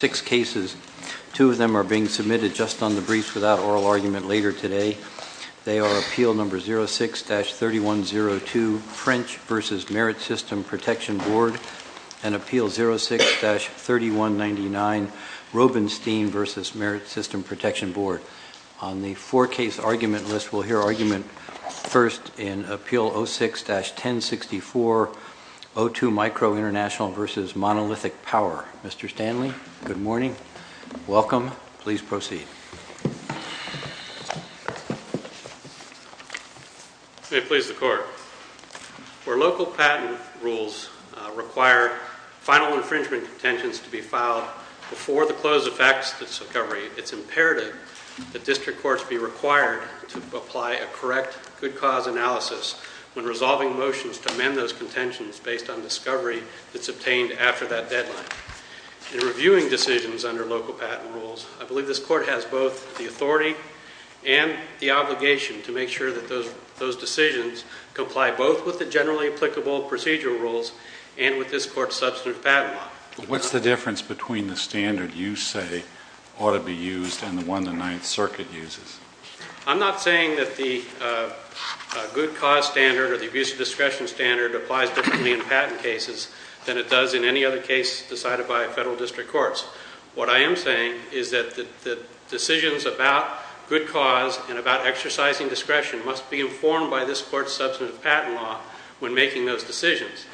Six cases, two of them are being submitted just on the briefs without oral argument later today. They are Appeal No. 06-3102, French v. Merit System Protection Board, and Appeal 06-3199, Robenstein v. Merit System Protection Board. On the four-case argument list, we'll hear argument first in Appeal 06-1064, O2 Micro Intl v. Monolithic Power. Mr. Stanley, good morning. Welcome. Please proceed. May it please the Court. Where local patent rules require final infringement contentions to be filed before the close effects of discovery, it's imperative that district courts be required to apply a correct good cause analysis when resolving motions to amend those contentions based on discovery that's obtained after that deadline. In reviewing decisions under local patent rules, I believe this Court has both the authority and the obligation to make sure that those decisions comply both with the generally applicable procedural rules and with this Court's substantive patent law. What's the difference between the standard you say ought to be used and the one the Ninth Circuit uses? I'm not saying that the good cause standard or the abuse of discretion standard applies differently in patent cases than it does in any other case decided by federal district courts. What I am saying is that the decisions about good cause and about exercising discretion must be informed by this Court's substantive patent law when making those decisions.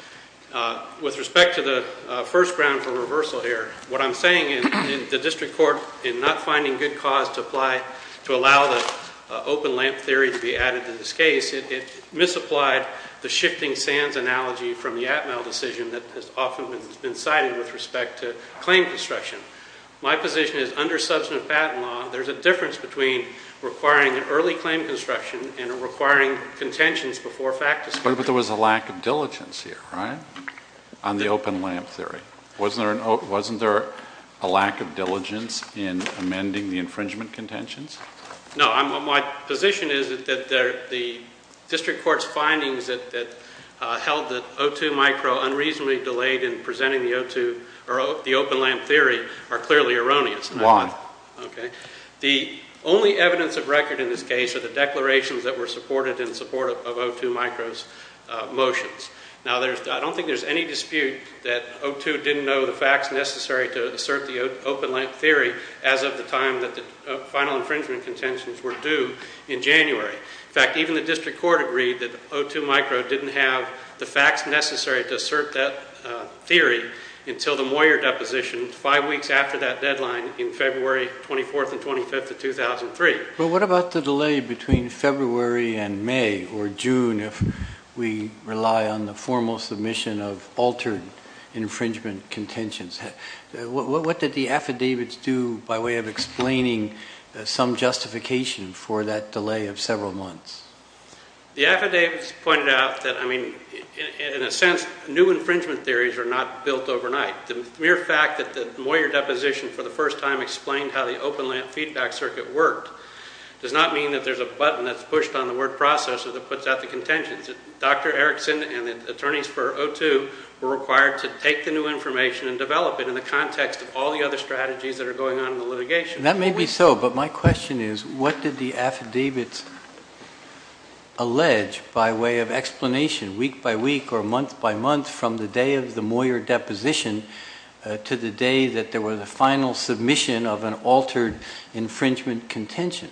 With respect to the first ground for reversal here, what I'm saying in the district court in not finding good cause to apply to allow the open lamp theory to be added to this case, it misapplied the shifting sands analogy from the Atmel decision that has often been cited with respect to claim construction. My position is under substantive patent law, there's a difference between requiring an early claim construction and requiring contentions before fact discovery. But there was a lack of diligence here, right, on the open lamp theory. Wasn't there a lack of diligence in amending the infringement contentions? No, my position is that the district court's findings that held that O2 micro unreasonably delayed in presenting the open lamp theory are clearly erroneous. Why? Okay. The only evidence of record in this case are the declarations that were supported in support of O2 micro's motions. Now, I don't think there's any dispute that O2 didn't know the facts necessary to assert the open lamp theory as of the time that the final infringement contentions were due in January. In fact, even the district court agreed that O2 micro didn't have the facts necessary to assert that theory until the Moyer deposition five weeks after that deadline in February 24th and 25th of 2003. But what about the delay between February and May or June if we rely on the formal submission of altered infringement contentions? What did the affidavits do by way of explaining some justification for that delay of several months? The affidavits pointed out that, I mean, in a sense, new infringement theories are not built overnight. The mere fact that the Moyer deposition for the first time explained how the open lamp feedback circuit worked does not mean that there's a button that's pushed on the word processor that puts out the contentions. Dr. Erickson and the attorneys for O2 were required to take the new information and develop it in the context of all the other strategies that are going on in the litigation. That may be so, but my question is what did the affidavits allege by way of explanation week by week or month by month from the day of the Moyer deposition to the day that there was a final submission of an altered infringement contention?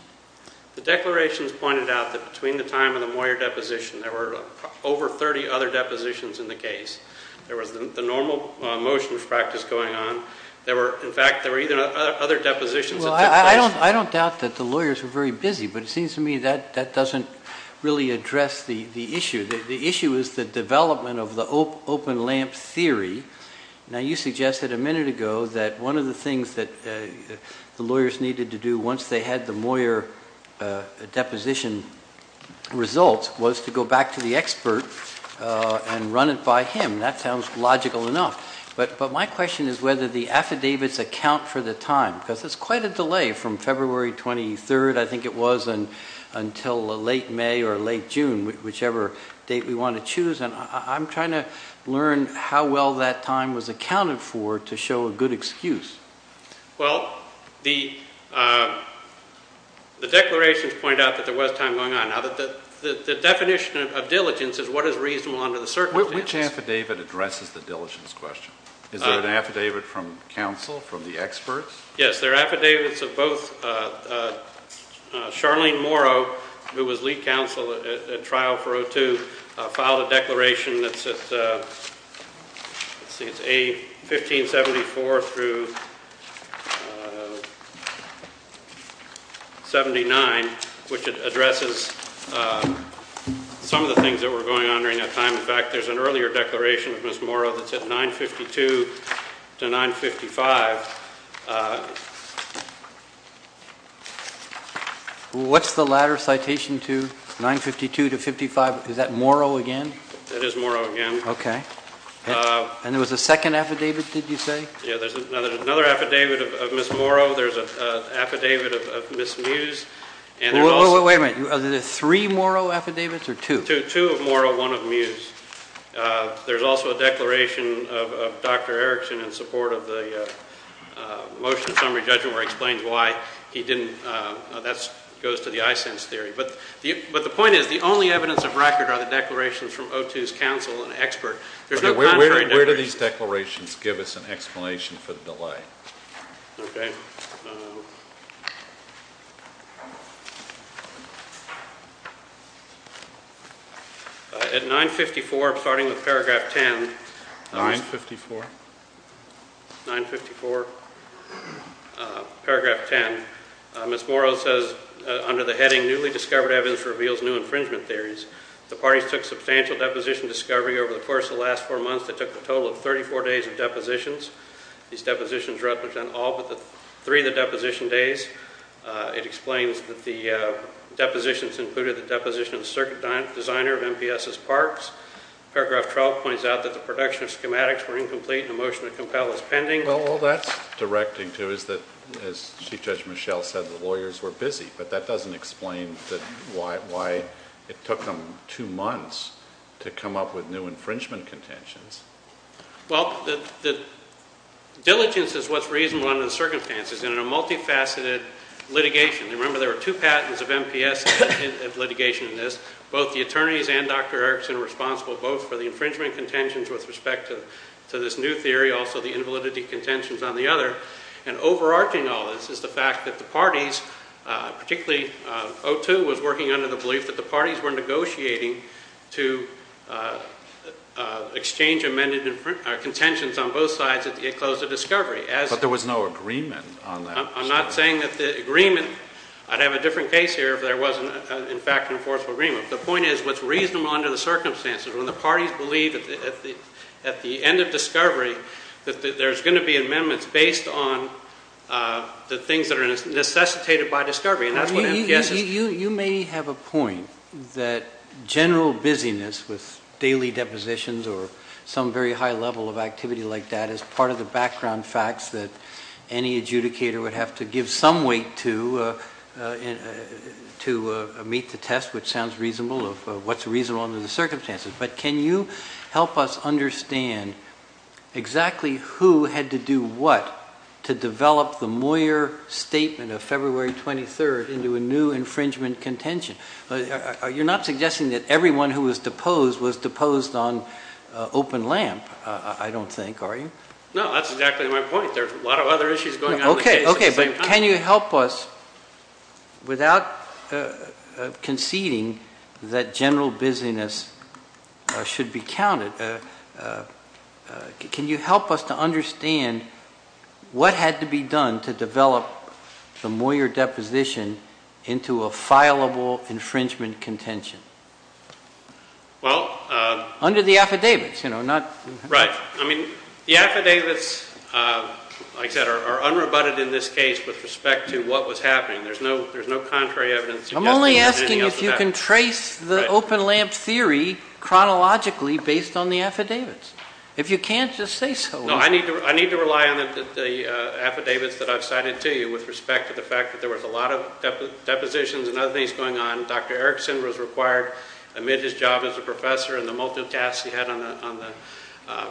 The declarations pointed out that between the time of the Moyer deposition, there were over 30 other depositions in the case. There was the normal motions practice going on. There were, in fact, there were even other depositions. Well, I don't doubt that the lawyers were very busy, but it seems to me that that doesn't really address the issue. The issue is the development of the open lamp theory. Now, you suggested a minute ago that one of the things that the lawyers needed to do once they had the Moyer deposition results was to go back to the expert and run it by him. That sounds logical enough. But my question is whether the affidavits account for the time because there's quite a delay from February 23rd, I think it was, until late May or late June, whichever date we want to choose. And I'm trying to learn how well that time was accounted for to show a good excuse. Well, the declarations point out that there was time going on. Now, the definition of diligence is what is reasonable under the circumstances. Which affidavit addresses the diligence question? Is there an affidavit from counsel, from the experts? Yes, there are affidavits of both Charlene Morrow, who was lead counsel at trial for O2, filed a declaration that's at, let's see, it's A1574 through 79, which addresses some of the things that were going on during that time. In fact, there's an earlier declaration of Ms. Morrow that's at 952 to 955. What's the latter citation to 952 to 55? Is that Morrow again? It is Morrow again. Okay. And there was a second affidavit, did you say? Yeah, there's another affidavit of Ms. Morrow. There's an affidavit of Ms. Mews. Wait a minute, are there three Morrow affidavits or two? Two of Morrow, one of Mews. There's also a declaration of Dr. Erickson in support of the motion summary judgment where he explains why he didn't, that goes to the ISANS theory. But the point is, the only evidence of record are the declarations from O2's counsel and expert. There's no contrary declaration. Where do these declarations give us an explanation for the delay? Okay. At 954, starting with paragraph 10. 954? 954, paragraph 10. Ms. Morrow says, under the heading, newly discovered evidence reveals new infringement theories. The parties took substantial deposition discovery over the course of the last four months that took the total of 34 days of depositions. These depositions represent all but three of the deposition days. It explains that the depositions included the deposition of the circuit designer of MPS's parks. Paragraph 12 points out that the production of schematics were incomplete and the motion to compel is pending. Well, all that's directing to is that, as Chief Judge Michelle said, the lawyers were busy. But that doesn't explain why it took them two months to come up with new infringement contentions. Well, the diligence is what's reasonable under the circumstances in a multifaceted litigation. Remember, there were two patents of MPS litigation in this. Both the attorneys and Dr. Erickson are responsible both for the infringement contentions with respect to this new theory, also the invalidity contentions on the other. And overarching all this is the fact that the parties, particularly O2 was working under the belief that the parties were negotiating to exchange amended contentions on both sides at the close of discovery. But there was no agreement on that. I'm not saying that the agreement, I'd have a different case here if there wasn't in fact an enforceable agreement. The point is what's reasonable under the circumstances, when the parties believe at the end of discovery that there's going to be amendments based on the things that are necessitated by discovery. And that's what MPS is. You may have a point that general busyness with daily depositions or some very high level of activity like that is part of the background facts that any adjudicator would have to give some weight to meet the test, which sounds reasonable, of what's reasonable under the circumstances. But can you help us understand exactly who had to do what to develop the Moyer statement of February 23rd into a new infringement contention? You're not suggesting that everyone who was deposed was deposed on open lamp I don't think, are you? No, that's exactly my point. There's a lot of other issues going on in the case at the same time. Can you help us without conceding that general busyness should be counted, can you help us to understand what had to be done to develop the Moyer deposition into a fileable infringement contention? Well. Under the affidavits, you know, not. Right. I mean, the affidavits like that are unrebutted in this case with respect to what was happening. There's no contrary evidence. I'm only asking if you can trace the open lamp theory chronologically based on the affidavits, if you can't just say so. No, I need to rely on the affidavits that I've cited to you with respect to the fact that there was a lot of depositions and other things going on. Dr. Erickson was required, amid his job as a professor and the multiple tasks he had on the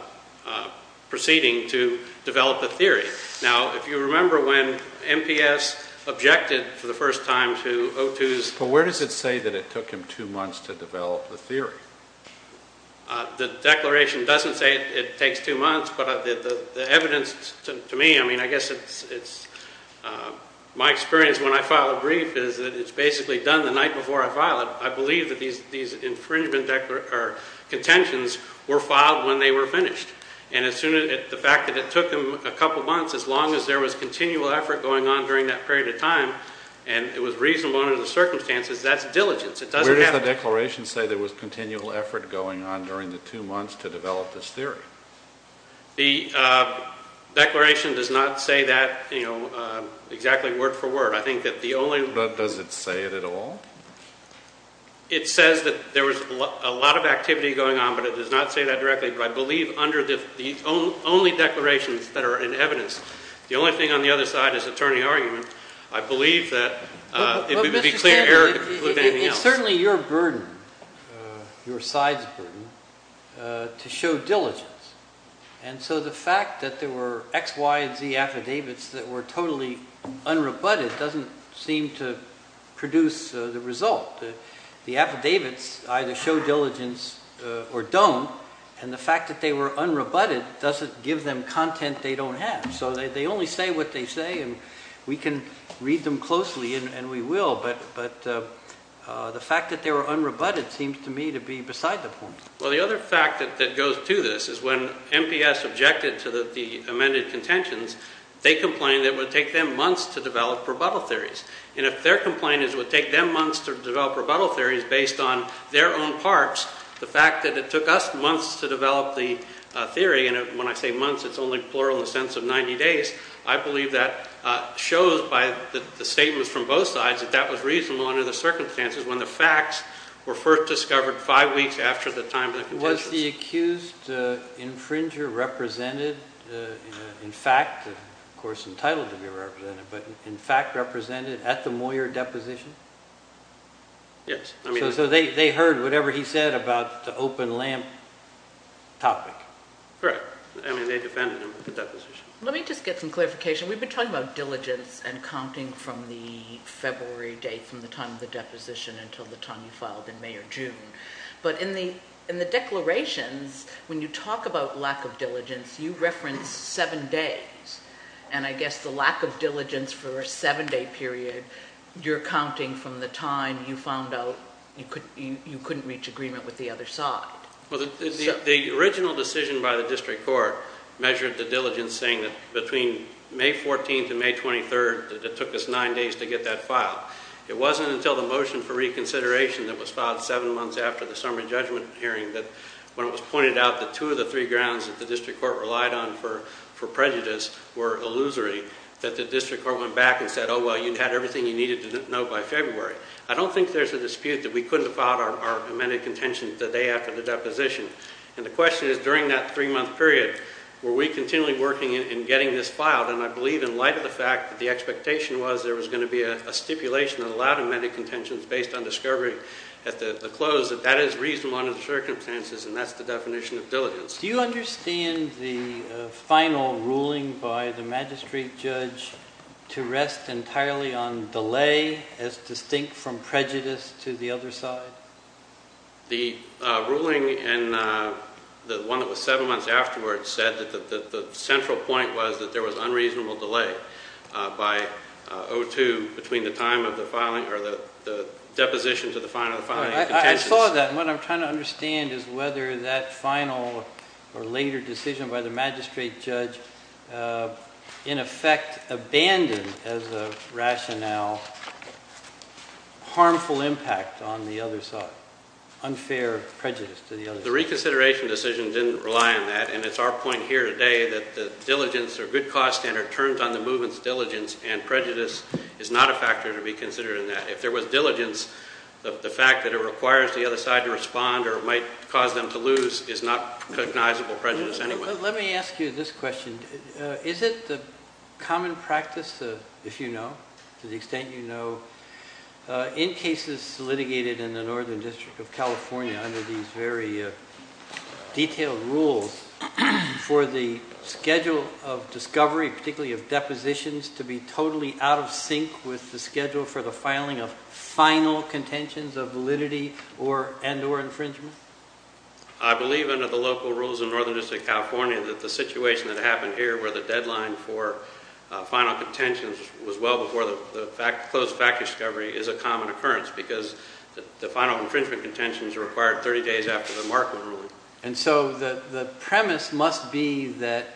proceeding, to develop a theory. Now, if you remember when MPS objected for the first time to O2's. But where does it say that it took him two months to develop the theory? The declaration doesn't say it takes two months, but the evidence to me, I mean, I guess it's, my experience when I file a brief is that it's basically done the night before I file it. I believe that these infringement contentions were filed when they were finished. And as soon as, the fact that it took him a couple months, as long as there was continual effort going on during that period of time, and it was reasonable under the circumstances, that's diligence. It doesn't have to be. Where does the declaration say there was continual effort going on during the two months to develop this theory? The declaration does not say that, you know, exactly word for word. I think that the only. But does it say it at all? It says that there was a lot of activity going on, but it does not say that directly. But I believe under the only declarations that are in evidence, the only thing on the other side is attorney argument. I believe that it would be clear error to conclude anything else. But Mr. Stanton, it's certainly your burden, your side's burden, to show diligence. And so the fact that there were X, Y, and Z affidavits that were totally unrebutted doesn't seem to produce the result. The affidavits either show diligence or don't, and the fact that they were unrebutted doesn't give them content they don't have. So they only say what they say, and we can read them closely, and we will. But the fact that they were unrebutted seems to me to be beside the point. Well, the other fact that goes to this is when MPS objected to the amended contentions, they complained that it would take them months to develop rebuttal theories. And if their complaint is it would take them months to develop rebuttal theories based on their own parts, the fact that it took us months to develop the theory, and when I say months, it's only plural in the sense of 90 days, I believe that shows by the statements from both sides that that was reasonable under the circumstances when the facts were first discovered five weeks after the time of the contentions. Was the accused infringer represented in fact, of course entitled to be represented, but in fact represented at the Moyer deposition? Yes. So they heard whatever he said about the open lamp topic? Right. I mean, they defended him at the deposition. Let me just get some clarification. We've been talking about diligence and counting from the February date from the time of the deposition until the time you filed in May or June. But in the declarations, when you talk about lack of diligence, you reference seven days, and I guess the lack of diligence for a seven-day period, you're counting from the time you found out you couldn't reach agreement with the other side. Well, the original decision by the district court measured the diligence saying that between May 14th and May 23rd, it took us nine days to get that filed. It wasn't until the motion for reconsideration that was filed seven months after the summary judgment hearing that when it was pointed out that two of the three grounds that the district court relied on for prejudice were illusory, that the district court went back and said, oh, well, you had everything you needed to know by February. I don't think there's a dispute that we couldn't have filed our amended contentions the day after the deposition, and the question is during that three-month period, were we continually working in getting this filed? And I believe in light of the fact that the expectation was there was going to be a stipulation that allowed amended contentions based on discovery at the close that that is reasonable under the circumstances, and that's the definition of diligence. Do you understand the final ruling by the magistrate judge to rest entirely on delay as distinct from prejudice to the other side? The ruling in the one that was seven months afterwards said that the central point was that there was unreasonable delay by O2 between the time of the filing or the deposition to the final filing of contentions. I saw that, and what I'm trying to understand is whether that final or later decision by the magistrate judge in effect abandoned as a rationale harmful impact on the other side, unfair prejudice to the other side. The reconsideration decision didn't rely on that, and it's our point here today that the diligence or good cause standard turned on the movement's diligence and prejudice is not a factor to be considered in that. If there was diligence, the fact that it requires the other side to respond or might cause them to lose is not recognizable prejudice anyway. Let me ask you this question. Is it the common practice, if you know, to the extent you know, in cases litigated in the Northern District of California under these very detailed rules for the schedule of discovery, particularly of depositions, to be totally out of sync with the schedule for the filing of final contentions of validity and or infringement? I believe under the local rules in Northern District of California that the situation that happened here where the deadline for final contentions was well before the closed fact discovery is a common occurrence because the final infringement contentions are required 30 days after the Markman ruling. And so the premise must be that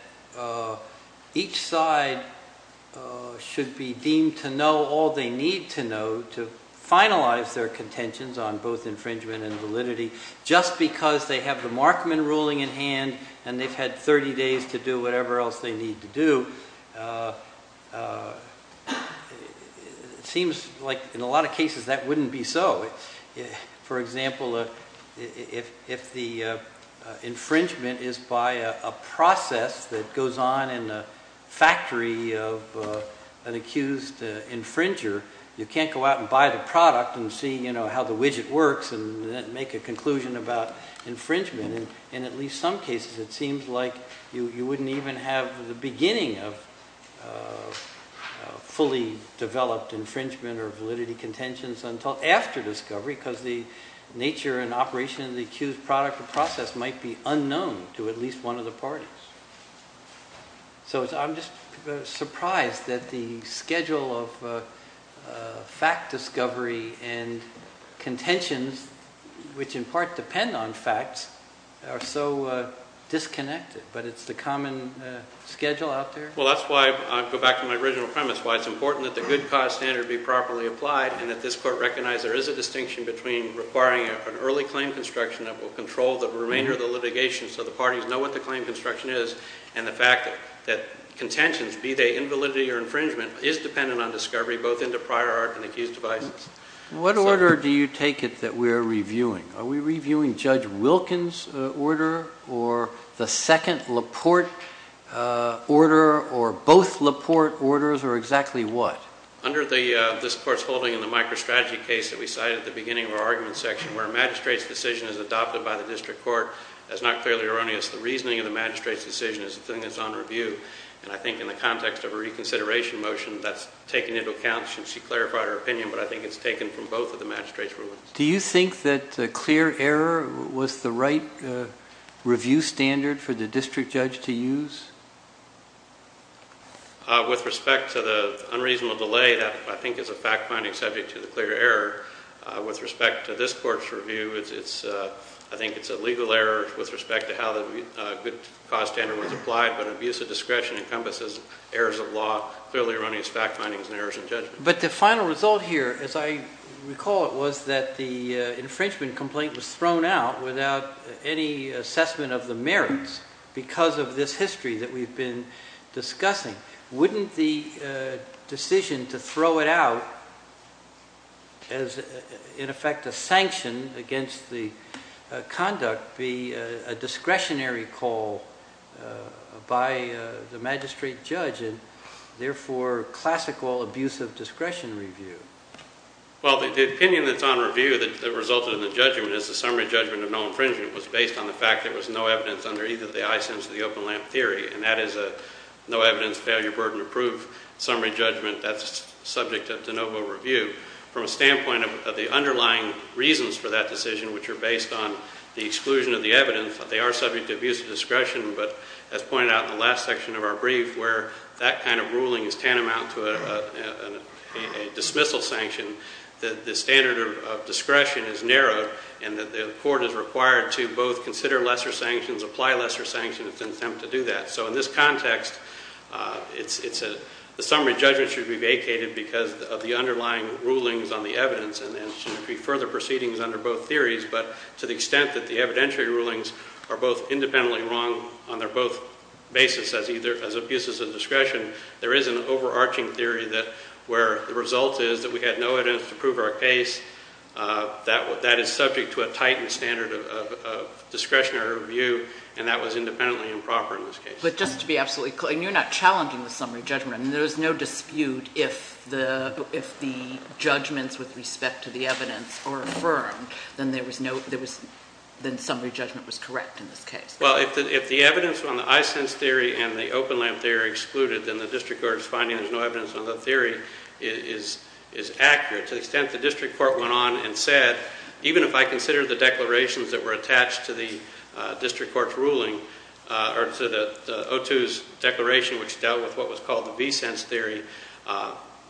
each side should be deemed to know all they need to know to finalize their contentions on both infringement and validity just because they have the Markman ruling in hand and they've had 30 days to do whatever else they need to do, it seems like in a lot of cases that wouldn't be so. For example, if the infringement is by a process that goes on in the factory of an accused infringer, you can't go out and buy the product and see, you know, how the widget works and make a conclusion about infringement. In at least some cases it seems like you wouldn't even have the beginning of fully developed infringement or validity contentions until after discovery because the nature and operation of the accused product or process might be unknown to at least one of the parties. So I'm just surprised that the schedule of fact discovery and contentions which in part depend on facts are so disconnected, but it's the common schedule out there? Well, that's why I go back to my original premise. Why it's important that the good cause standard be properly applied and that this court recognize there is a distinction between requiring an early claim construction that will control the remainder of the litigation so the parties know what the claim construction is and the fact that contentions be they invalidity or infringement is dependent on discovery both in the prior art and the accused devices. What order do you take it that we're reviewing? Are we reviewing Judge Wilkins' order or the second Laporte order or both Laporte orders or exactly what? Under this court's holding in the microstrategy case that we cited at the beginning of our argument section where magistrate's decision is adopted by the district court, that's not clearly erroneous. The reasoning of the magistrate's decision is the thing that's on review and I think in the context of a reconsideration motion that's taken into account since she clarified her opinion but I think it's taken from both of the magistrate's rulings. Do you think that the clear error was the right review standard for the district judge to use? With respect to the unreasonable delay, that I think is a fact-finding subject to the clear error. With respect to this court's review, I think it's a legal error with respect to how the good cause standard was applied but abuse of discretion encompasses errors of law, clearly erroneous fact findings and errors in judgment. But the final result here as I recall it was that the infringement complaint was thrown out without any assessment of the merits because of this history that we've been discussing. Wouldn't the decision to throw it out as in effect a sanction against the conduct be a discretionary call by the magistrate judge to make the decision therefore classical abuse of discretion review? Well, the opinion that's on review that resulted in the judgment is the summary judgment of no infringement was based on the fact there was no evidence under either the eyesense of the open lamp theory and that is a no evidence failure burden approved summary judgment that's subject of de novo review. From a standpoint of the underlying reasons for that decision which are based on the exclusion of the evidence, they are subject to abuse of discretion but as pointed out in the last section of our brief where that kind of ruling is tantamount to a dismissal sanction, the standard of discretion is narrowed and the court is required to both consider lesser sanctions, apply lesser sanctions in an attempt to do that. So in this context, the summary judgment should be vacated because of the underlying rulings on the evidence and there should be further proceedings under both theories but to the extent that the evidentiary rulings are both independently wrong on their both basis as either as abuses of discretion, there is an overarching theory that where the result is that we had no evidence to prove our case, that is subject to a tightened standard of discretionary review and that was independently improper in this case. But just to be absolutely clear, you're not challenging the summary judgment. There is no dispute if the judgments with respect to the evidence are affirmed, then there was no, then summary judgment was correct in this case. Well, if the evidence on the i-sense theory and the open lamp theory are excluded, then the district court's finding there's no evidence on the theory is accurate. To the extent the district court went on and said, even if I consider the declarations that were attached to the district court's ruling or to the O2's declaration which dealt with what was called the v-sense theory,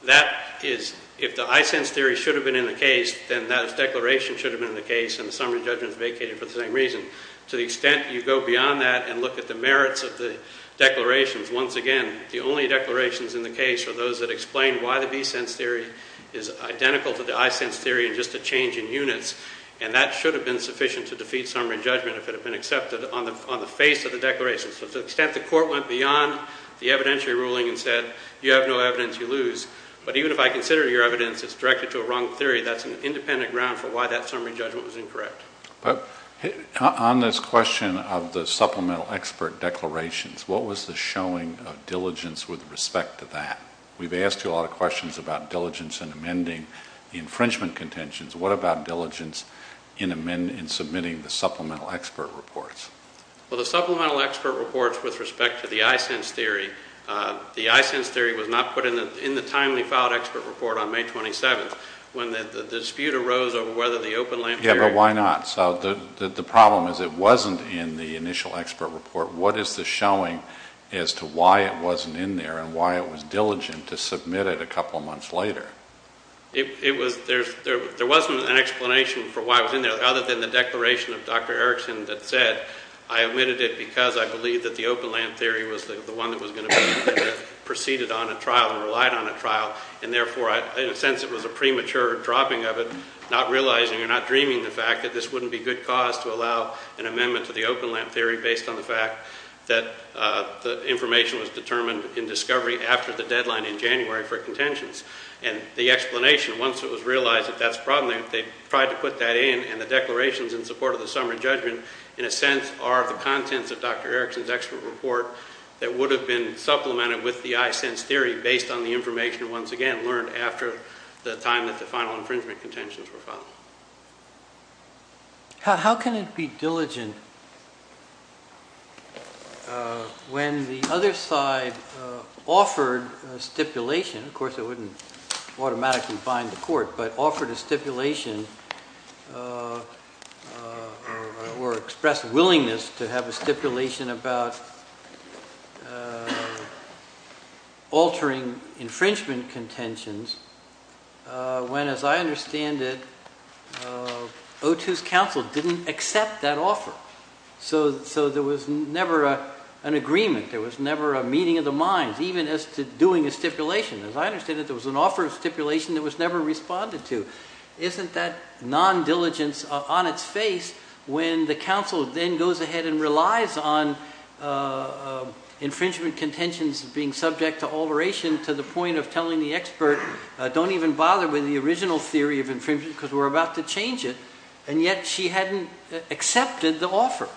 that is, if the i-sense theory should have been in the case, then that declaration should have been in the case and the summary judgment is vacated for the same reason. To the extent you go beyond that and look at the merits of the declarations, once again, the only declarations in the case are those that explain why the v-sense theory is identical to the i-sense theory and just a change in units and that should have been sufficient to defeat summary judgment if it had been accepted on the face of the declaration. So to the extent the court went beyond the evidentiary ruling and said, you have no evidence, you lose. But even if I consider your evidence as directed to a wrong theory, that's an independent ground for why that summary judgment was incorrect. But on this question of the supplemental expert declarations, what was the showing of diligence with respect to that? We've asked you a lot of questions about diligence in amending the infringement contentions. What about diligence in submitting the supplemental expert reports? Well, the supplemental expert reports with respect to the i-sense theory, the i-sense theory was not put in the timely filed expert report on May 27th when the dispute arose over whether the open lamp theory... Yeah, but why not? So the problem is it wasn't in the initial expert report. What is the showing as to why it wasn't in there and why it was diligent to submit it a couple of months later? There wasn't an explanation for why it was in there other than the declaration of Dr. Erickson that said, I omitted it because I believe that the open lamp theory was the one that was going to be proceeded on a trial and relied on a trial and therefore, in a sense, it was a premature dropping of it, not realizing or not dreaming the fact that this wouldn't be good cause to allow an amendment to the open lamp theory based on the fact that the information was determined in discovery after the deadline in January for contentions. And the explanation, once it was realized that that's the problem, they tried to put that in and the declarations in support of the summary judgment in a sense are the contents of Dr. Erickson's expert report that would have been supplemented with the i-sense theory based on the information once again learned after the time that the final infringement contentions were filed. How can it be diligent when the other side offered a stipulation, of course it wouldn't automatically bind the court, but offered a stipulation or expressed willingness to have a stipulation about altering infringement contentions when, as I understand it, O2's counsel didn't accept that offer. So there was never an agreement, there was never a meeting of the minds, even as to doing a stipulation. As I understand it, there was an offer of stipulation that was never responded to. Isn't that non-diligence on its face when the counsel then goes ahead and relies on infringement contentions being subject to alteration to the point of telling the expert, don't even bother with the original theory of infringement because we're about to change it, and yet she hadn't accepted the offer.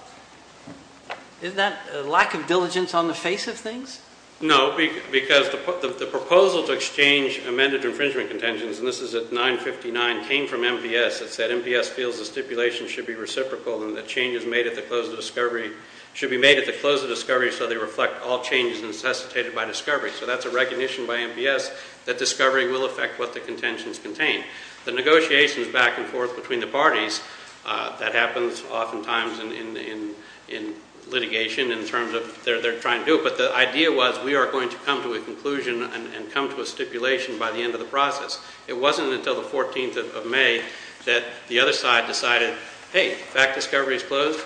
Isn't that a lack of diligence on the face of things? No, because the proposal to exchange amended infringement contentions, and this is at 959, came from MPS. It said MPS feels the stipulation should be reciprocal and that changes made at the close of discovery should be made at the close of discovery so they reflect all changes necessitated by discovery. So that's a recognition by MPS that discovery will affect what the contentions contain. The negotiations back and forth between the parties, that happens oftentimes in litigation in terms of they're trying to do it, but the idea was we are going to come to a conclusion and come to a stipulation by the end of the process. It wasn't until the 14th of May that the other side decided, hey, fact discovery is closed.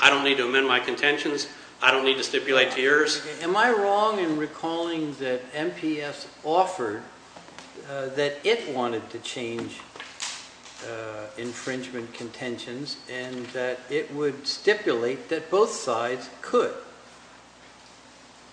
I don't need to amend my contentions. I don't need to stipulate to yours. Am I wrong in recalling that MPS offered that it wanted to change infringement contentions and that it would stipulate that both sides could?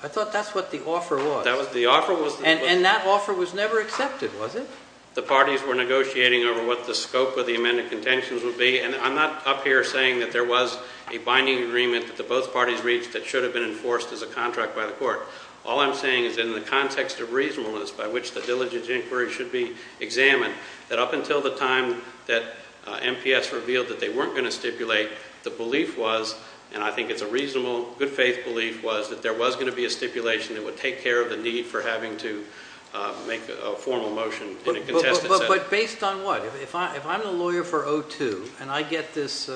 I thought that's what the offer was. That was the offer. And that offer was never accepted, was it? The parties were negotiating over what the scope of the amended contentions would be and I'm not up here saying that there was a binding agreement that both parties reached that should have been enforced as a contract by the court. All I'm saying is in the context of reasonableness by which the diligent inquiry should be examined, that up until the time that MPS revealed that they weren't going to stipulate, the belief was, and I think it's a reasonable, good faith belief, was that there was going to be a stipulation that would take care of the need for having to make a formal motion in a contested setting. But based on what? If I'm the lawyer for O2 and I get this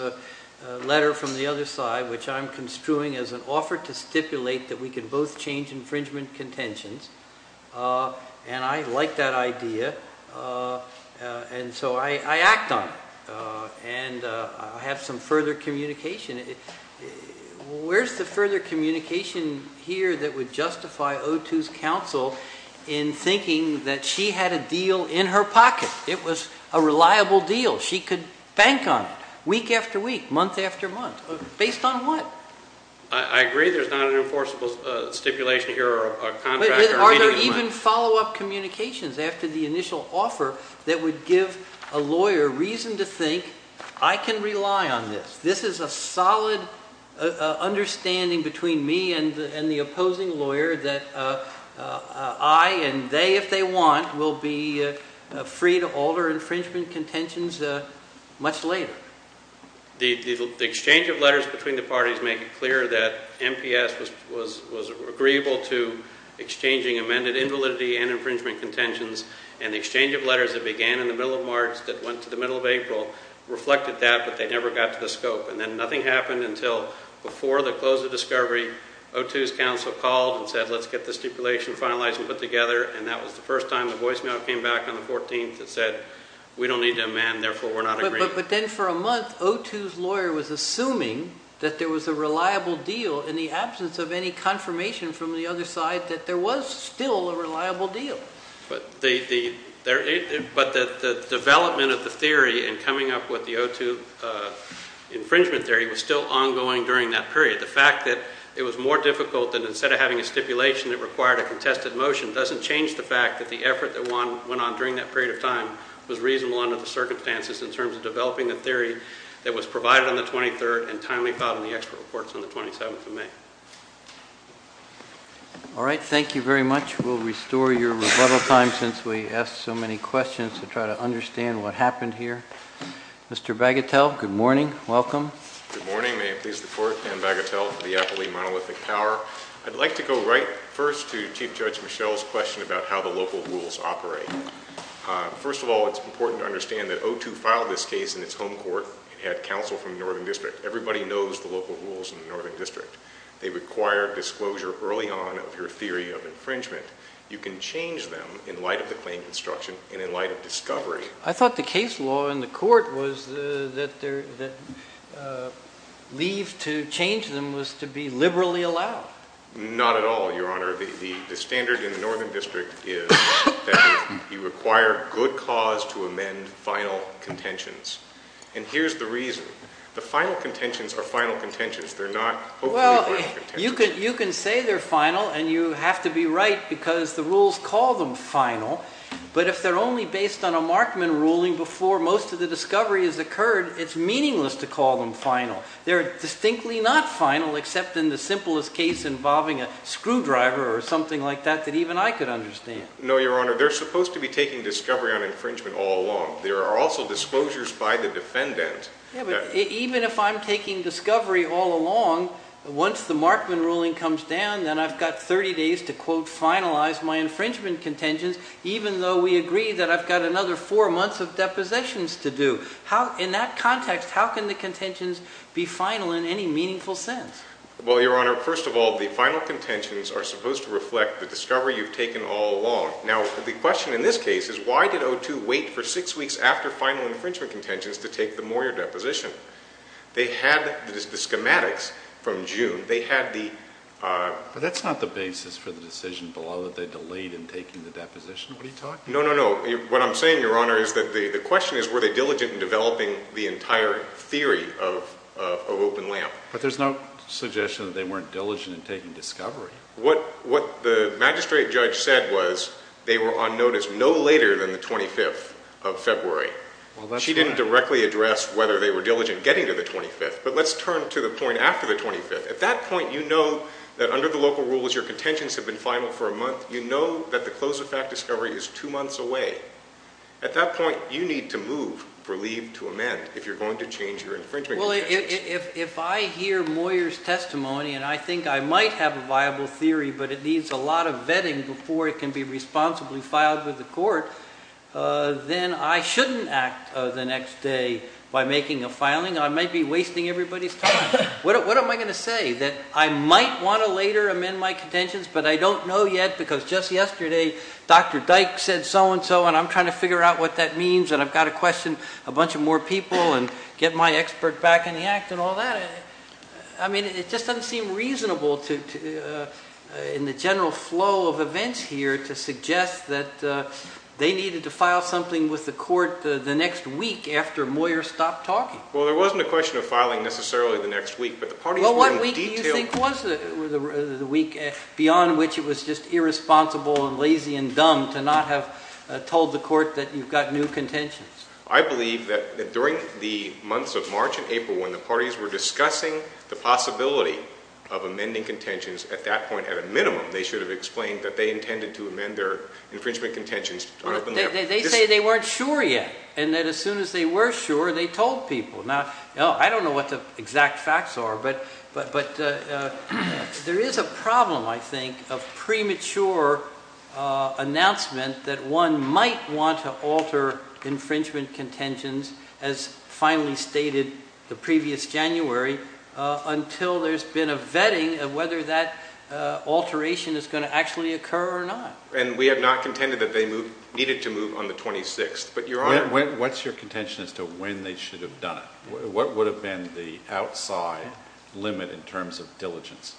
letter from the other side which I'm construing as an offer to stipulate that we can both change infringement contentions and I like that idea and so I act on it and I have some further communication. Where's the further communication here that would justify O2's counsel in thinking that she had a deal in her pocket? It was a reliable deal. She could bank on it week after week, month after month. Based on what? I agree there's not an enforceable stipulation here or a contract. Are there even follow-up communications after the initial offer that would give a lawyer reason to think I can rely on this? This is a solid understanding between me and the opposing lawyer that I and they if they want will be free to alter infringement contentions much later. The exchange of letters between the parties make it clear that MPS was agreeable to exchanging amended invalidity and infringement contentions and the exchange of letters that began in the middle of March that went to the middle of April reflected that but they never got to the scope and then nothing happened until before the close of discovery O2's counsel called and said let's get the stipulation finalized and put together and that was the first time the voicemail came back on the 14th that said we don't need to amend therefore we're not agreeing. But then for a month O2's lawyer was assuming that there was a reliable deal in the absence of any confirmation from the other side that there was still a reliable deal. But the development of the theory and coming up with the O2 infringement theory was still ongoing during that period. The fact that it was more difficult than instead of having a stipulation that required a contested motion doesn't change the fact that the effort that went on during that period of time was reasonable under the circumstances in terms of developing the theory that was provided on the 23rd and timely filed in the expert reports on the 27th of May. All right, thank you very much. We'll restore your rebuttal time since we asked so many questions to try to understand what happened here. Mr. Bagatelle, good morning, welcome. Good morning, may it please the court. Dan Bagatelle for the Appleby Monolithic Power. I'd like to go right first to Chief Judge Michelle's question about how the local rules operate. First of all, it's important to understand that O2 filed this case in its home court and had counsel from the Northern District. Everybody knows the local rules in the Northern District. They require disclosure early on of your theory of infringement. You can change them in light of the claim construction and in light of discovery. I thought the case law in the court was that leave to change them was to be liberally allowed. Not at all, Your Honor. The standard in the Northern District is that you require good cause to amend final contentions. And here's the reason. The final contentions are final contentions. They're not hopefully final contentions. Well, you can say they're final and you have to be right because the rules call them final. But if they're only based on a Markman ruling before most of the discovery has occurred, it's meaningless to call them final. They're distinctly not final except in the simplest case involving a screwdriver or something like that that even I could understand. No, Your Honor. They're supposed to be taking discovery on infringement all along. There are also disclosures by the defendant. Yeah, but even if I'm taking discovery all along, once the Markman ruling comes down, then I've got 30 days to quote finalize my infringement contentions. Even though we agree that I've got another four months of depositions to do. How, in that context, how can the contentions be final in any meaningful sense? Well, Your Honor, first of all, the final contentions are supposed to reflect the discovery you've taken all along. Now, the question in this case is why did O2 wait for six weeks after final infringement contentions to take the Moyer deposition? They had the schematics from June. They had the... But that's not the basis for the decision below that they delayed in taking the deposition. What are you talking about? No, no, no. What I'm saying, Your Honor, is that the question is, were they diligent in developing the entire theory of Open LAMP? But there's no suggestion that they weren't diligent in taking discovery. What the magistrate judge said was they were on notice no later than the 25th of February. She didn't directly address whether they were diligent getting to the 25th. But let's turn to the point after the 25th. your contentions have been final for a month. You know that the close-of-fact discovery is two months away. At that point, you need to move for leave to amend if you're going to change your infringement. Well, if I hear Moyer's testimony and I think I might have a viable theory, but it needs a lot of vetting before it can be responsibly filed with the court, then I shouldn't act the next day by making a filing. I might be wasting everybody's time. What am I going to say? That I might want to later amend my contentions, but I don't know yet because just yesterday Dr. Dyke said so-and-so and I'm trying to figure out what that means and I've got to question a bunch of more people and get my expert back in the act and all that. I mean, it just doesn't seem reasonable in the general flow of events here to suggest that they needed to file something with the court the next week after Moyer stopped talking. Well, there wasn't a question of filing necessarily the next week, Well, what week do you think was the week beyond which it was just irresponsible and lazy and dumb to not have told the court that you've got new contentions? I believe that during the months of March and April when the parties were discussing the possibility of amending contentions, at that point, at a minimum, they should have explained that they intended to amend their infringement contentions. They say they weren't sure yet and that as soon as they were sure, they told people. Now, I don't know what the exact facts are, but there is a problem, I think, of premature announcement that one might want to alter infringement contentions as finally stated the previous January until there's been a vetting of whether that alteration is going to actually occur or not. And we have not contended that they needed to move on the 26th, but Your Honor- What's your contention as to when they should have done it? What would have been the outside limit in terms of diligence?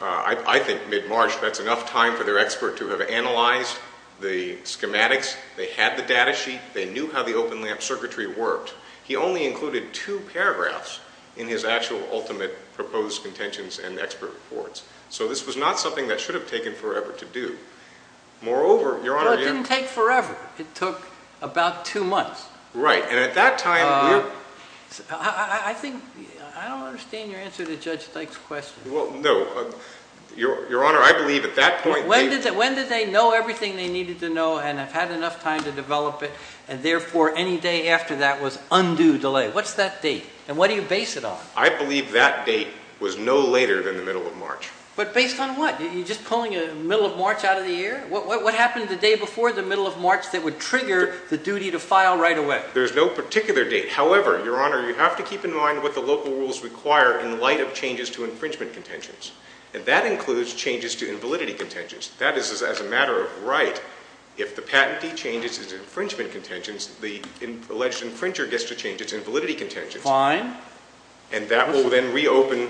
I think mid-March, that's enough time for their expert to have analyzed the schematics. They had the data sheet. They knew how the open-lamp circuitry worked. He only included two paragraphs in his actual ultimate proposed contentions and expert reports. So this was not something that should have taken forever to do. Moreover, Your Honor- Well, it didn't take forever. It took about two months. Right, and at that time- I think- I don't understand your answer to Judge Dyke's question. Well, no. Your Honor, I believe at that point- When did they know everything they needed to know and have had enough time to develop it, and therefore any day after that was undue delay? What's that date, and what do you base it on? I believe that date was no later than the middle of March. But based on what? You're just pulling a middle of March out of the air? What happened the day before the middle of March that would trigger the duty to file right away? There's no particular date. However, Your Honor, you have to keep in mind what the local rules require in light of changes to infringement contentions, and that includes changes to invalidity contentions. That is, as a matter of right, if the patentee changes his infringement contentions, the alleged infringer gets to change its invalidity contentions. Fine. And that will then reopen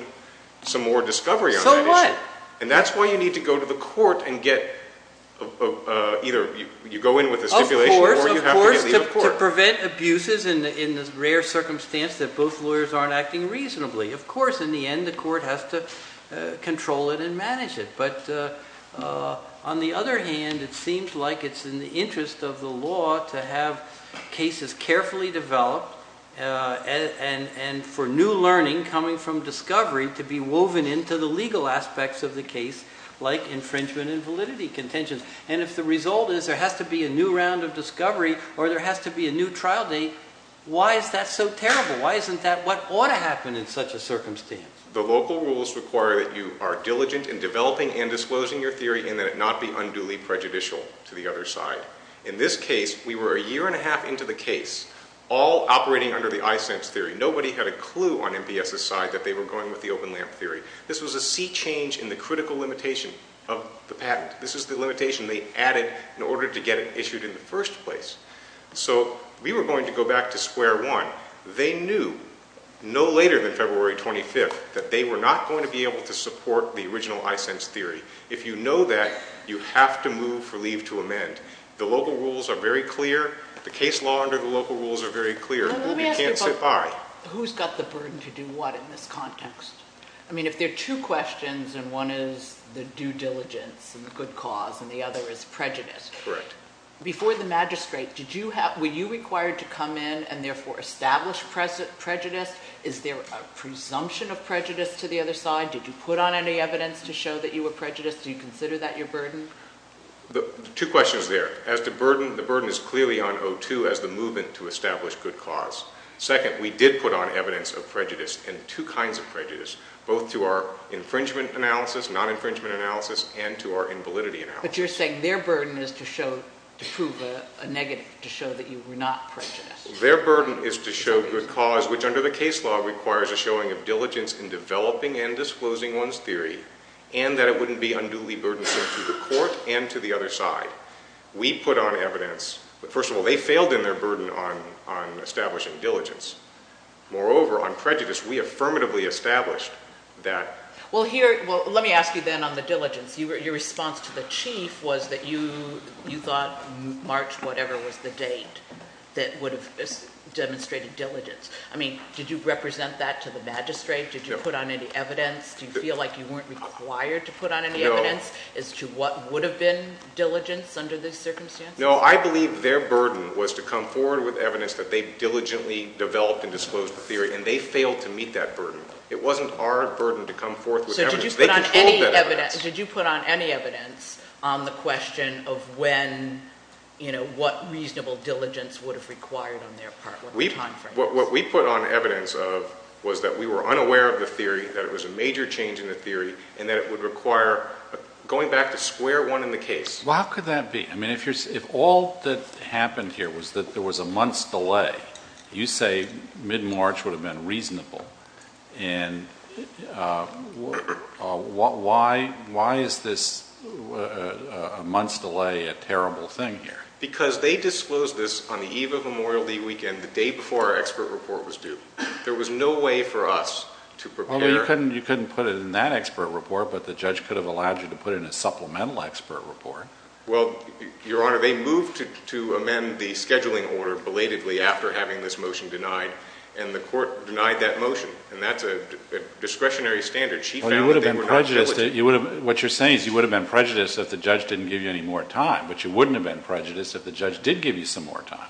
some more discovery on that issue. So what? And that's why you need to go to the court and get, either you go in with a stipulation or you have to leave the court. Of course, of course, to prevent abuses in the rare circumstance that both lawyers aren't acting reasonably. Of course, in the end, the court has to control it and manage it. But on the other hand, it seems like it's in the interest of the law to have cases carefully developed and for new learning coming from discovery to be woven into the legal aspects of the case like infringement and validity contentions. And if the result is there has to be a new round of discovery or there has to be a new trial date, why is that so terrible? Why isn't that what ought to happen in such a circumstance? The local rules require that you are diligent in developing and disclosing your theory and that it not be unduly prejudicial to the other side. In this case, we were a year and a half into the case, all operating under the iSense theory. Nobody had a clue on MPS's side that they were going with the open lamp theory. This was a sea change in the critical limitation of the patent. This is the limitation they added in order to get it issued in the first place. So we were going to go back to square one. They knew no later than February 25th that they were not going to be able to support the original iSense theory. If you know that, you have to move for leave to amend. The local rules are very clear. The case law under the local rules are very clear. You can't sit by. Who's got the burden to do what in this context? I mean, if there are two questions, and one is the due diligence and the good cause and the other is prejudice... Correct. Before the magistrate, did you have... Were you required to come in and therefore establish prejudice? Is there a presumption of prejudice to the other side? Did you put on any evidence to show that you were prejudiced? Do you consider that your burden? Two questions there. As to burden, the burden is clearly on O2 as the movement to establish good cause. Second, we did put on evidence of prejudice, and two kinds of prejudice, both to our infringement analysis, non-infringement analysis, and to our invalidity analysis. But you're saying their burden is to show, to prove a negative, to show that you were not prejudiced. Their burden is to show good cause, which under the case law requires a showing of diligence in developing and disclosing one's theory, and that it wouldn't be unduly burdensome to the court and to the other side. We put on evidence. First of all, they failed in their burden on establishing diligence. Moreover, on prejudice, we affirmatively established that... Well, here... Well, let me ask you then on the diligence. Your response to the chief was that you thought March whatever was the date that would have demonstrated diligence. I mean, did you represent that to the magistrate? Did you put on any evidence? Do you feel like you weren't required to put on any evidence as to what would have been diligence under these circumstances? No, I believe their burden was to come forward with evidence that they diligently developed and disclosed the theory, and they failed to meet that burden. It wasn't our burden to come forth with evidence. They controlled that evidence. So did you put on any evidence on the question of when, you know, what reasonable diligence would have required on their part, what the time frame was? What we put on evidence of was that we were unaware of the theory, that it was a major change in the theory, and that it would require going back to square one in the case. Well, how could that be? I mean, if all that happened here was that there was a month's delay, you say mid-March would have been reasonable. And why is this a month's delay a terrible thing here? Because they disclosed this on the eve of Memorial Day weekend, the day before our expert report was due. There was no way for us to prepare. Well, you couldn't put it in that expert report, but the judge could have allowed you to put it in a supplemental expert report. Well, Your Honor, they moved to after having this motion denied, and the court denied that motion. And that's a discretionary standard. She found that they were not diligent. What you're saying is you would have been prejudiced if the judge didn't give you any more time. But you wouldn't have been prejudiced if the judge did give you some more time.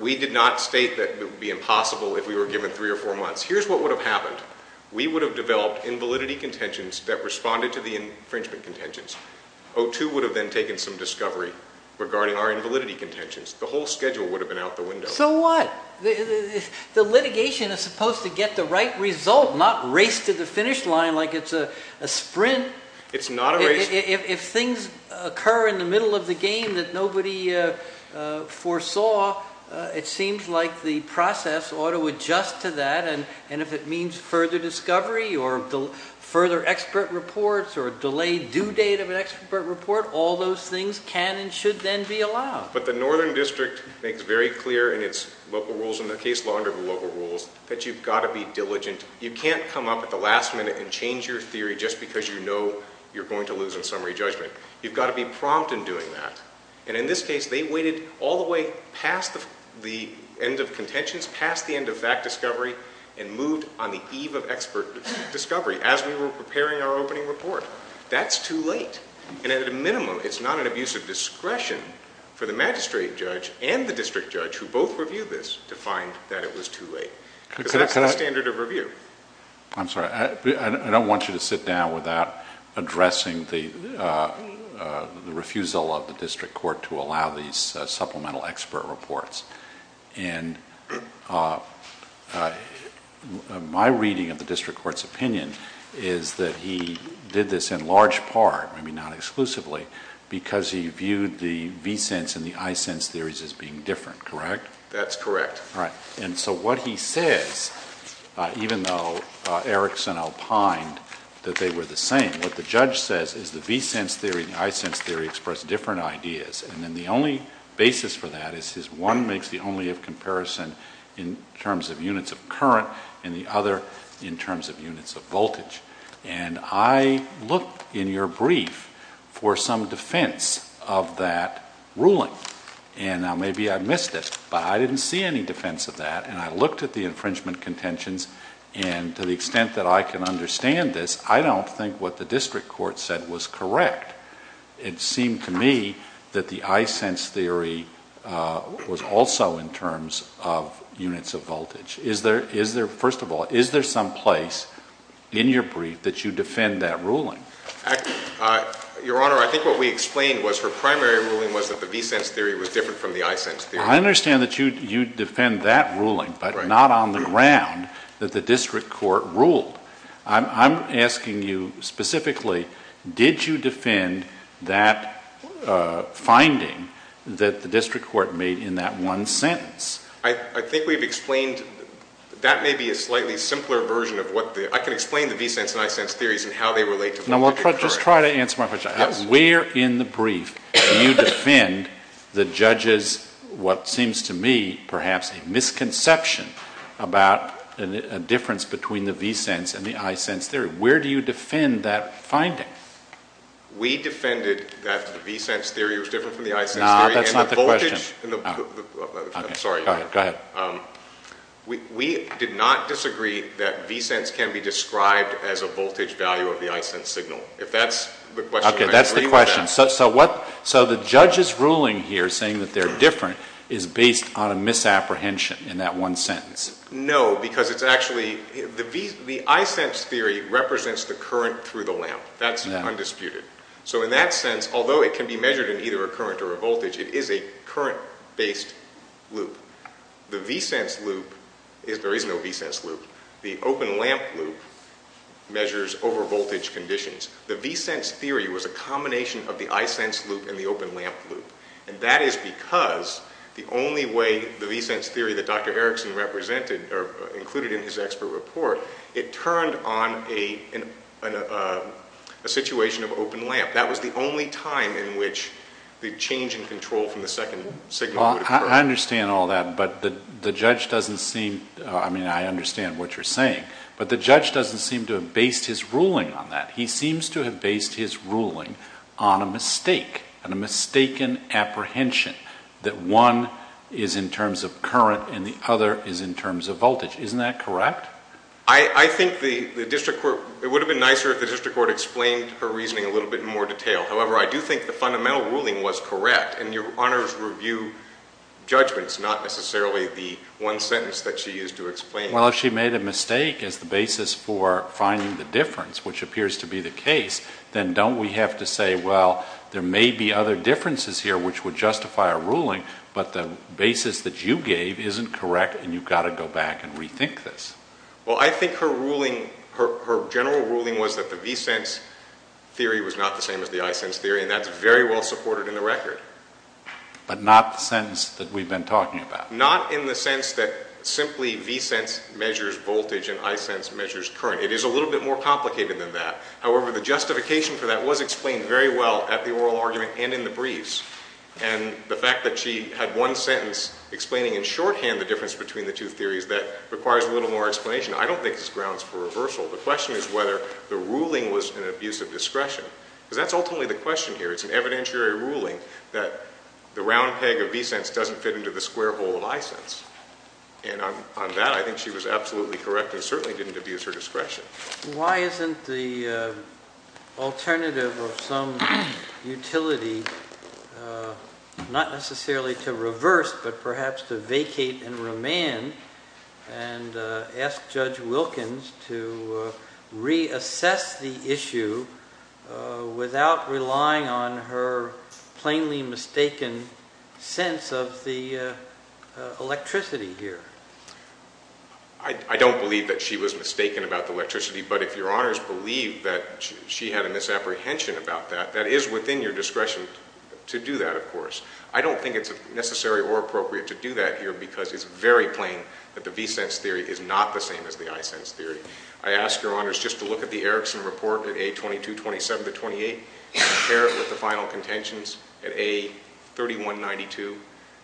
We did not state that it would be impossible if we were given three or four months. Here's what would have happened. We would have developed invalidity contentions that responded to the infringement contentions. O2 would have then taken some discovery regarding our invalidity contentions. The whole schedule would have been out the window. So what? The litigation is supposed to get the right result, not race to the finish line like it's a sprint. It's not a race... If things occur in the middle of the game that nobody foresaw, it seems like the process ought to adjust to that. And if it means further discovery or further expert reports or a delayed due date of an expert report, all those things can and should then be allowed. But the Northern District makes very clear in its local rules, in the case law under the local rules, that you've got to be diligent. You can't come up at the last minute and change your theory just because you know you're going to lose in summary judgment. You've got to be prompt in doing that. And in this case, they waited all the way past the end of contentions, past the end of that discovery, as we were preparing our opening report. That's too late. And at a minimum, it's not an abuse of discretion for the magistrate judge and the district judge who both reviewed this to find that it was too late. Because that's the standard of review. I'm sorry. I don't want you to sit down without addressing the refusal of the district court to allow these supplemental expert reports. My reading of the district court's opinion is that he did this in large part, maybe not exclusively, because he viewed the V-sense and the I-sense theories as being different, correct? That's correct. Right. And so what he says, even though Erickson opined that they were the same, what the judge says is the V-sense theory and the I-sense theory express different ideas. And then the only basis for that is one makes the only-if comparison in terms of units of current and the other in terms of units of voltage. And I looked in your brief for some defense of that ruling. And now maybe I missed this, but I didn't see any defense of that. And I looked at the infringement contentions and to the extent that I can understand this, I don't think what the district court said was correct. It seemed to me that the I-sense theory was also in terms of units of voltage. First of all, is there some place in your brief that you defend that ruling? Your Honor, I think what we explained was her primary ruling was that the V-sense theory was different from the I-sense theory. I understand that you defend that ruling, but not on the ground that the district court ruled. I'm asking you specifically, did you defend that finding that the district court made in that one sentence? I think we've explained- that may be a slightly simpler version of what the- I can explain the V-sense and I-sense theories No, just try to answer my question. Where in the brief do you defend the judge's, what seems to me, perhaps a misconception about a difference between the V-sense and the I-sense theory? Where do you defend that finding? We defended that the V-sense theory was different from the I-sense theory. No, that's not the question. And the voltage- I'm sorry. Go ahead. We did not disagree that V-sense can be described as a voltage value of the I-sense signal. If that's the question, I agree with that. Okay, that's the question. So the judge's ruling here saying that they're different is based on a misapprehension in that one sentence? No, because it's actually- the I-sense theory represents the current through the lamp. That's undisputed. So in that sense, although it can be measured in either a current or a voltage, it is a current-based loop. The V-sense loop- there is no V-sense loop. The open lamp loop measures over-voltage conditions. The V-sense theory was a combination of the I-sense loop and the open lamp loop. And that is because the only way the V-sense theory that Dr. Erickson represented or included in his expert report, it turned on a situation of open lamp. That was the only time in which the change in control from the second signal would occur. I understand all that, but the judge doesn't seem- I mean, I understand what you're saying, but the judge doesn't seem to have based his ruling on that. He seems to have based his ruling on a mistake, on a mistaken apprehension that one is in terms of current and the other is in terms of voltage. Isn't that correct? I think the district court- it would have been nicer if the district court explained her reasoning a little bit in more detail. However, I do think the fundamental ruling was correct. And your Honor's review judgment is not necessarily the one sentence that she used to explain. Well, if she made a mistake as the basis for finding the difference, which appears to be the case, then don't we have to say, well, there may be other differences here which would justify a ruling, but the basis that you gave isn't correct and you've got to go back and rethink this. Well, I think her ruling- her general ruling was that the V-sense theory was not the same as the I-sense theory, and that's very well supported in the record. But not the sentence that we've been talking about. Not in the sense that simply V-sense measures voltage and I-sense measures current. It is a little bit more complicated than that. However, the justification for that was explained very well at the oral argument and in the briefs. And the fact that she had one sentence explaining in shorthand the difference between the two theories, that requires a little more explanation. I don't think it's grounds for reversal. The question is whether the ruling was an abuse of discretion. Because that's ultimately the question here. It's an evidentiary ruling that the round peg of V-sense doesn't fit into the square hole of I-sense. And on that, I think she was absolutely correct and certainly didn't abuse her discretion. Why isn't the alternative of some utility not necessarily to reverse but perhaps to vacate and remand and ask Judge Wilkins to reassess the issue without relying on her plainly mistaken sense of the electricity here? I don't believe that she was mistaken about the electricity. But if Your Honors believe that she had a misapprehension about that, that is within your discretion to do that, of course. I don't think it's necessary or appropriate to do that here because it's very plain that the V-sense theory is not the same as the I-sense theory. I ask Your Honors just to look at the Erickson Report at A22, 27 to 28, compare it with the final contentions at A31, 92.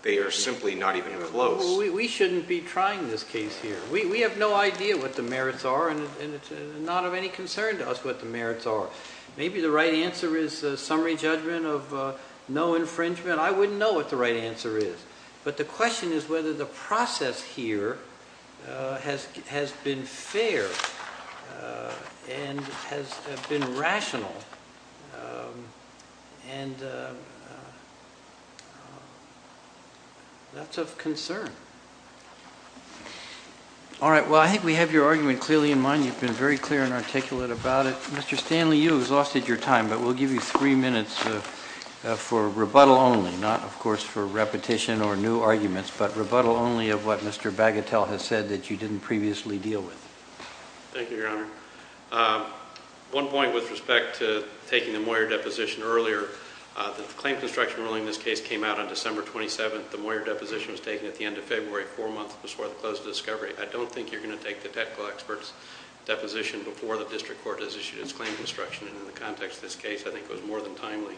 They are simply not even close. We shouldn't be trying this case here. We have no idea what the merits are and it's not of any concern to us what the merits are. Maybe the right answer is a summary judgment of no infringement. I wouldn't know what the right answer is. But the question is whether the process here has been fair and has been rational and that's of concern. All right. Well, I think we have your argument clearly in mind. You've been very clear and articulate about it. Mr. Stanley, you exhausted your time, but we'll give you three minutes for rebuttal only, not, of course, for repetition or new arguments, but rebuttal only of what Mr. Bagatelle has said that you didn't previously deal with. Thank you, Your Honor. One point with respect to taking the Moyer deposition earlier. The claim construction ruling in this case came out on December 27th. The Moyer deposition was taken at the end of February, four months before the close of discovery. I don't think you're going to take the technical expert's deposition before the district court has issued its claim construction. And in the context of this case, I think it was more than timely.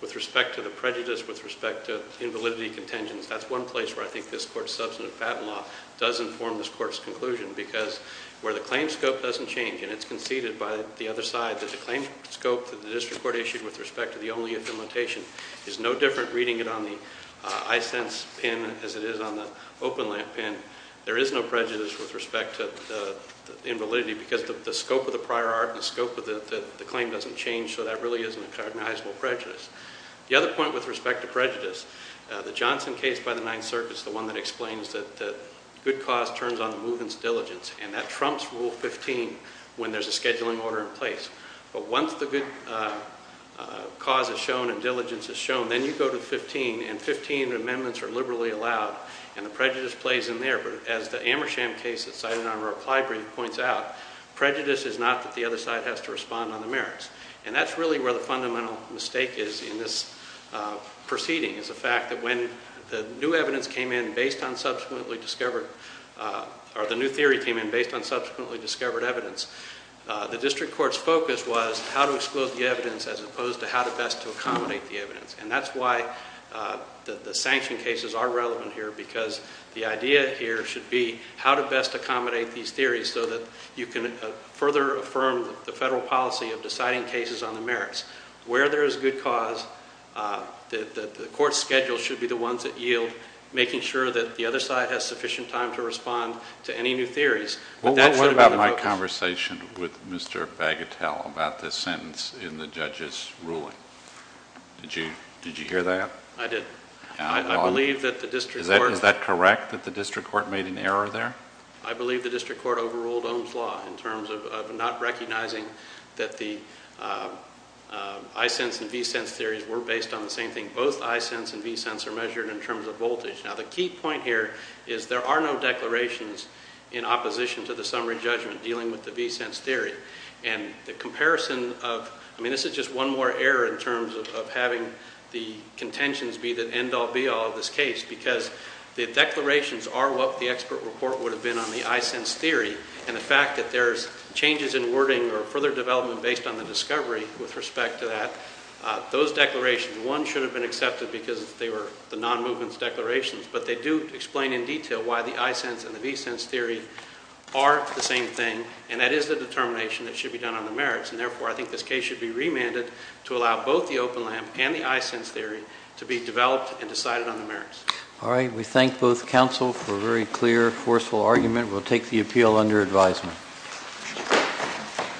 With respect to the prejudice, with respect to invalidity contingents, that's one place where I think this court's substantive patent law does inform this court's conclusion because where the claim scope doesn't change, and it's conceded by the other side that the claim scope that the district court issued with respect to the only affiliation is no different reading it on the iSense pen as it is on the OpenLamp pen. There is no prejudice with respect to the invalidity because the scope of the prior art and the scope of the claim doesn't change, so that really isn't a recognizable prejudice. The other point with respect to prejudice. The Johnson case by the Ninth Circuit is the one that explains that good cause turns on the movement's diligence, and that trumps Rule 15 when there's a scheduling order in place. But once the good cause is shown and diligence is shown, then you go to 15, and 15 amendments are liberally allowed, and the prejudice plays in there. But as the Amersham case that's cited in our reply brief points out, prejudice is not that the other side has to respond on the merits. And that's really where the fundamental mistake is in this proceeding, is the fact that when the new evidence came in based on subsequently discovered, or the new theory came in based on subsequently discovered evidence, the district court's focus was how to exclude the evidence as opposed to how to best to accommodate the evidence. And that's why the sanction cases are relevant here because the idea here should be how to best accommodate these theories so that you can further affirm the federal policy of deciding cases on the merits. Where there is good cause, the court's schedule should be the ones that yield making sure that the other side has sufficient time to respond to any new theories. What about my conversation with Mr. Bagatelle about this sentence in the judge's ruling? Did you hear that? I did. Is that correct that the district court made an error there? I believe the district court overruled Ohm's Law in terms of not recognizing that the i-sense and v-sense theories were based on the same thing. Both i-sense and v-sense are measured in terms of voltage. Now the key point here is there are no declarations in opposition to the summary judgment dealing with the v-sense theory. And the comparison of... I mean, this is just one more error in terms of having the contentions be the end-all be-all of this case because the declarations are what the expert report would have been on the i-sense theory and the fact that there's changes in wording or further development based on the discovery with respect to that, those declarations, one should have been accepted because they were the non-movement declarations, but they do explain in detail why the i-sense and the v-sense theory are the same thing and that is the determination that should be done on the merits. And therefore, I think this case should be remanded to allow both the open lamp and the i-sense theory to be developed and decided on the merits. All right. We thank both counsel for a very clear, forceful argument. We'll take the appeal under advisement.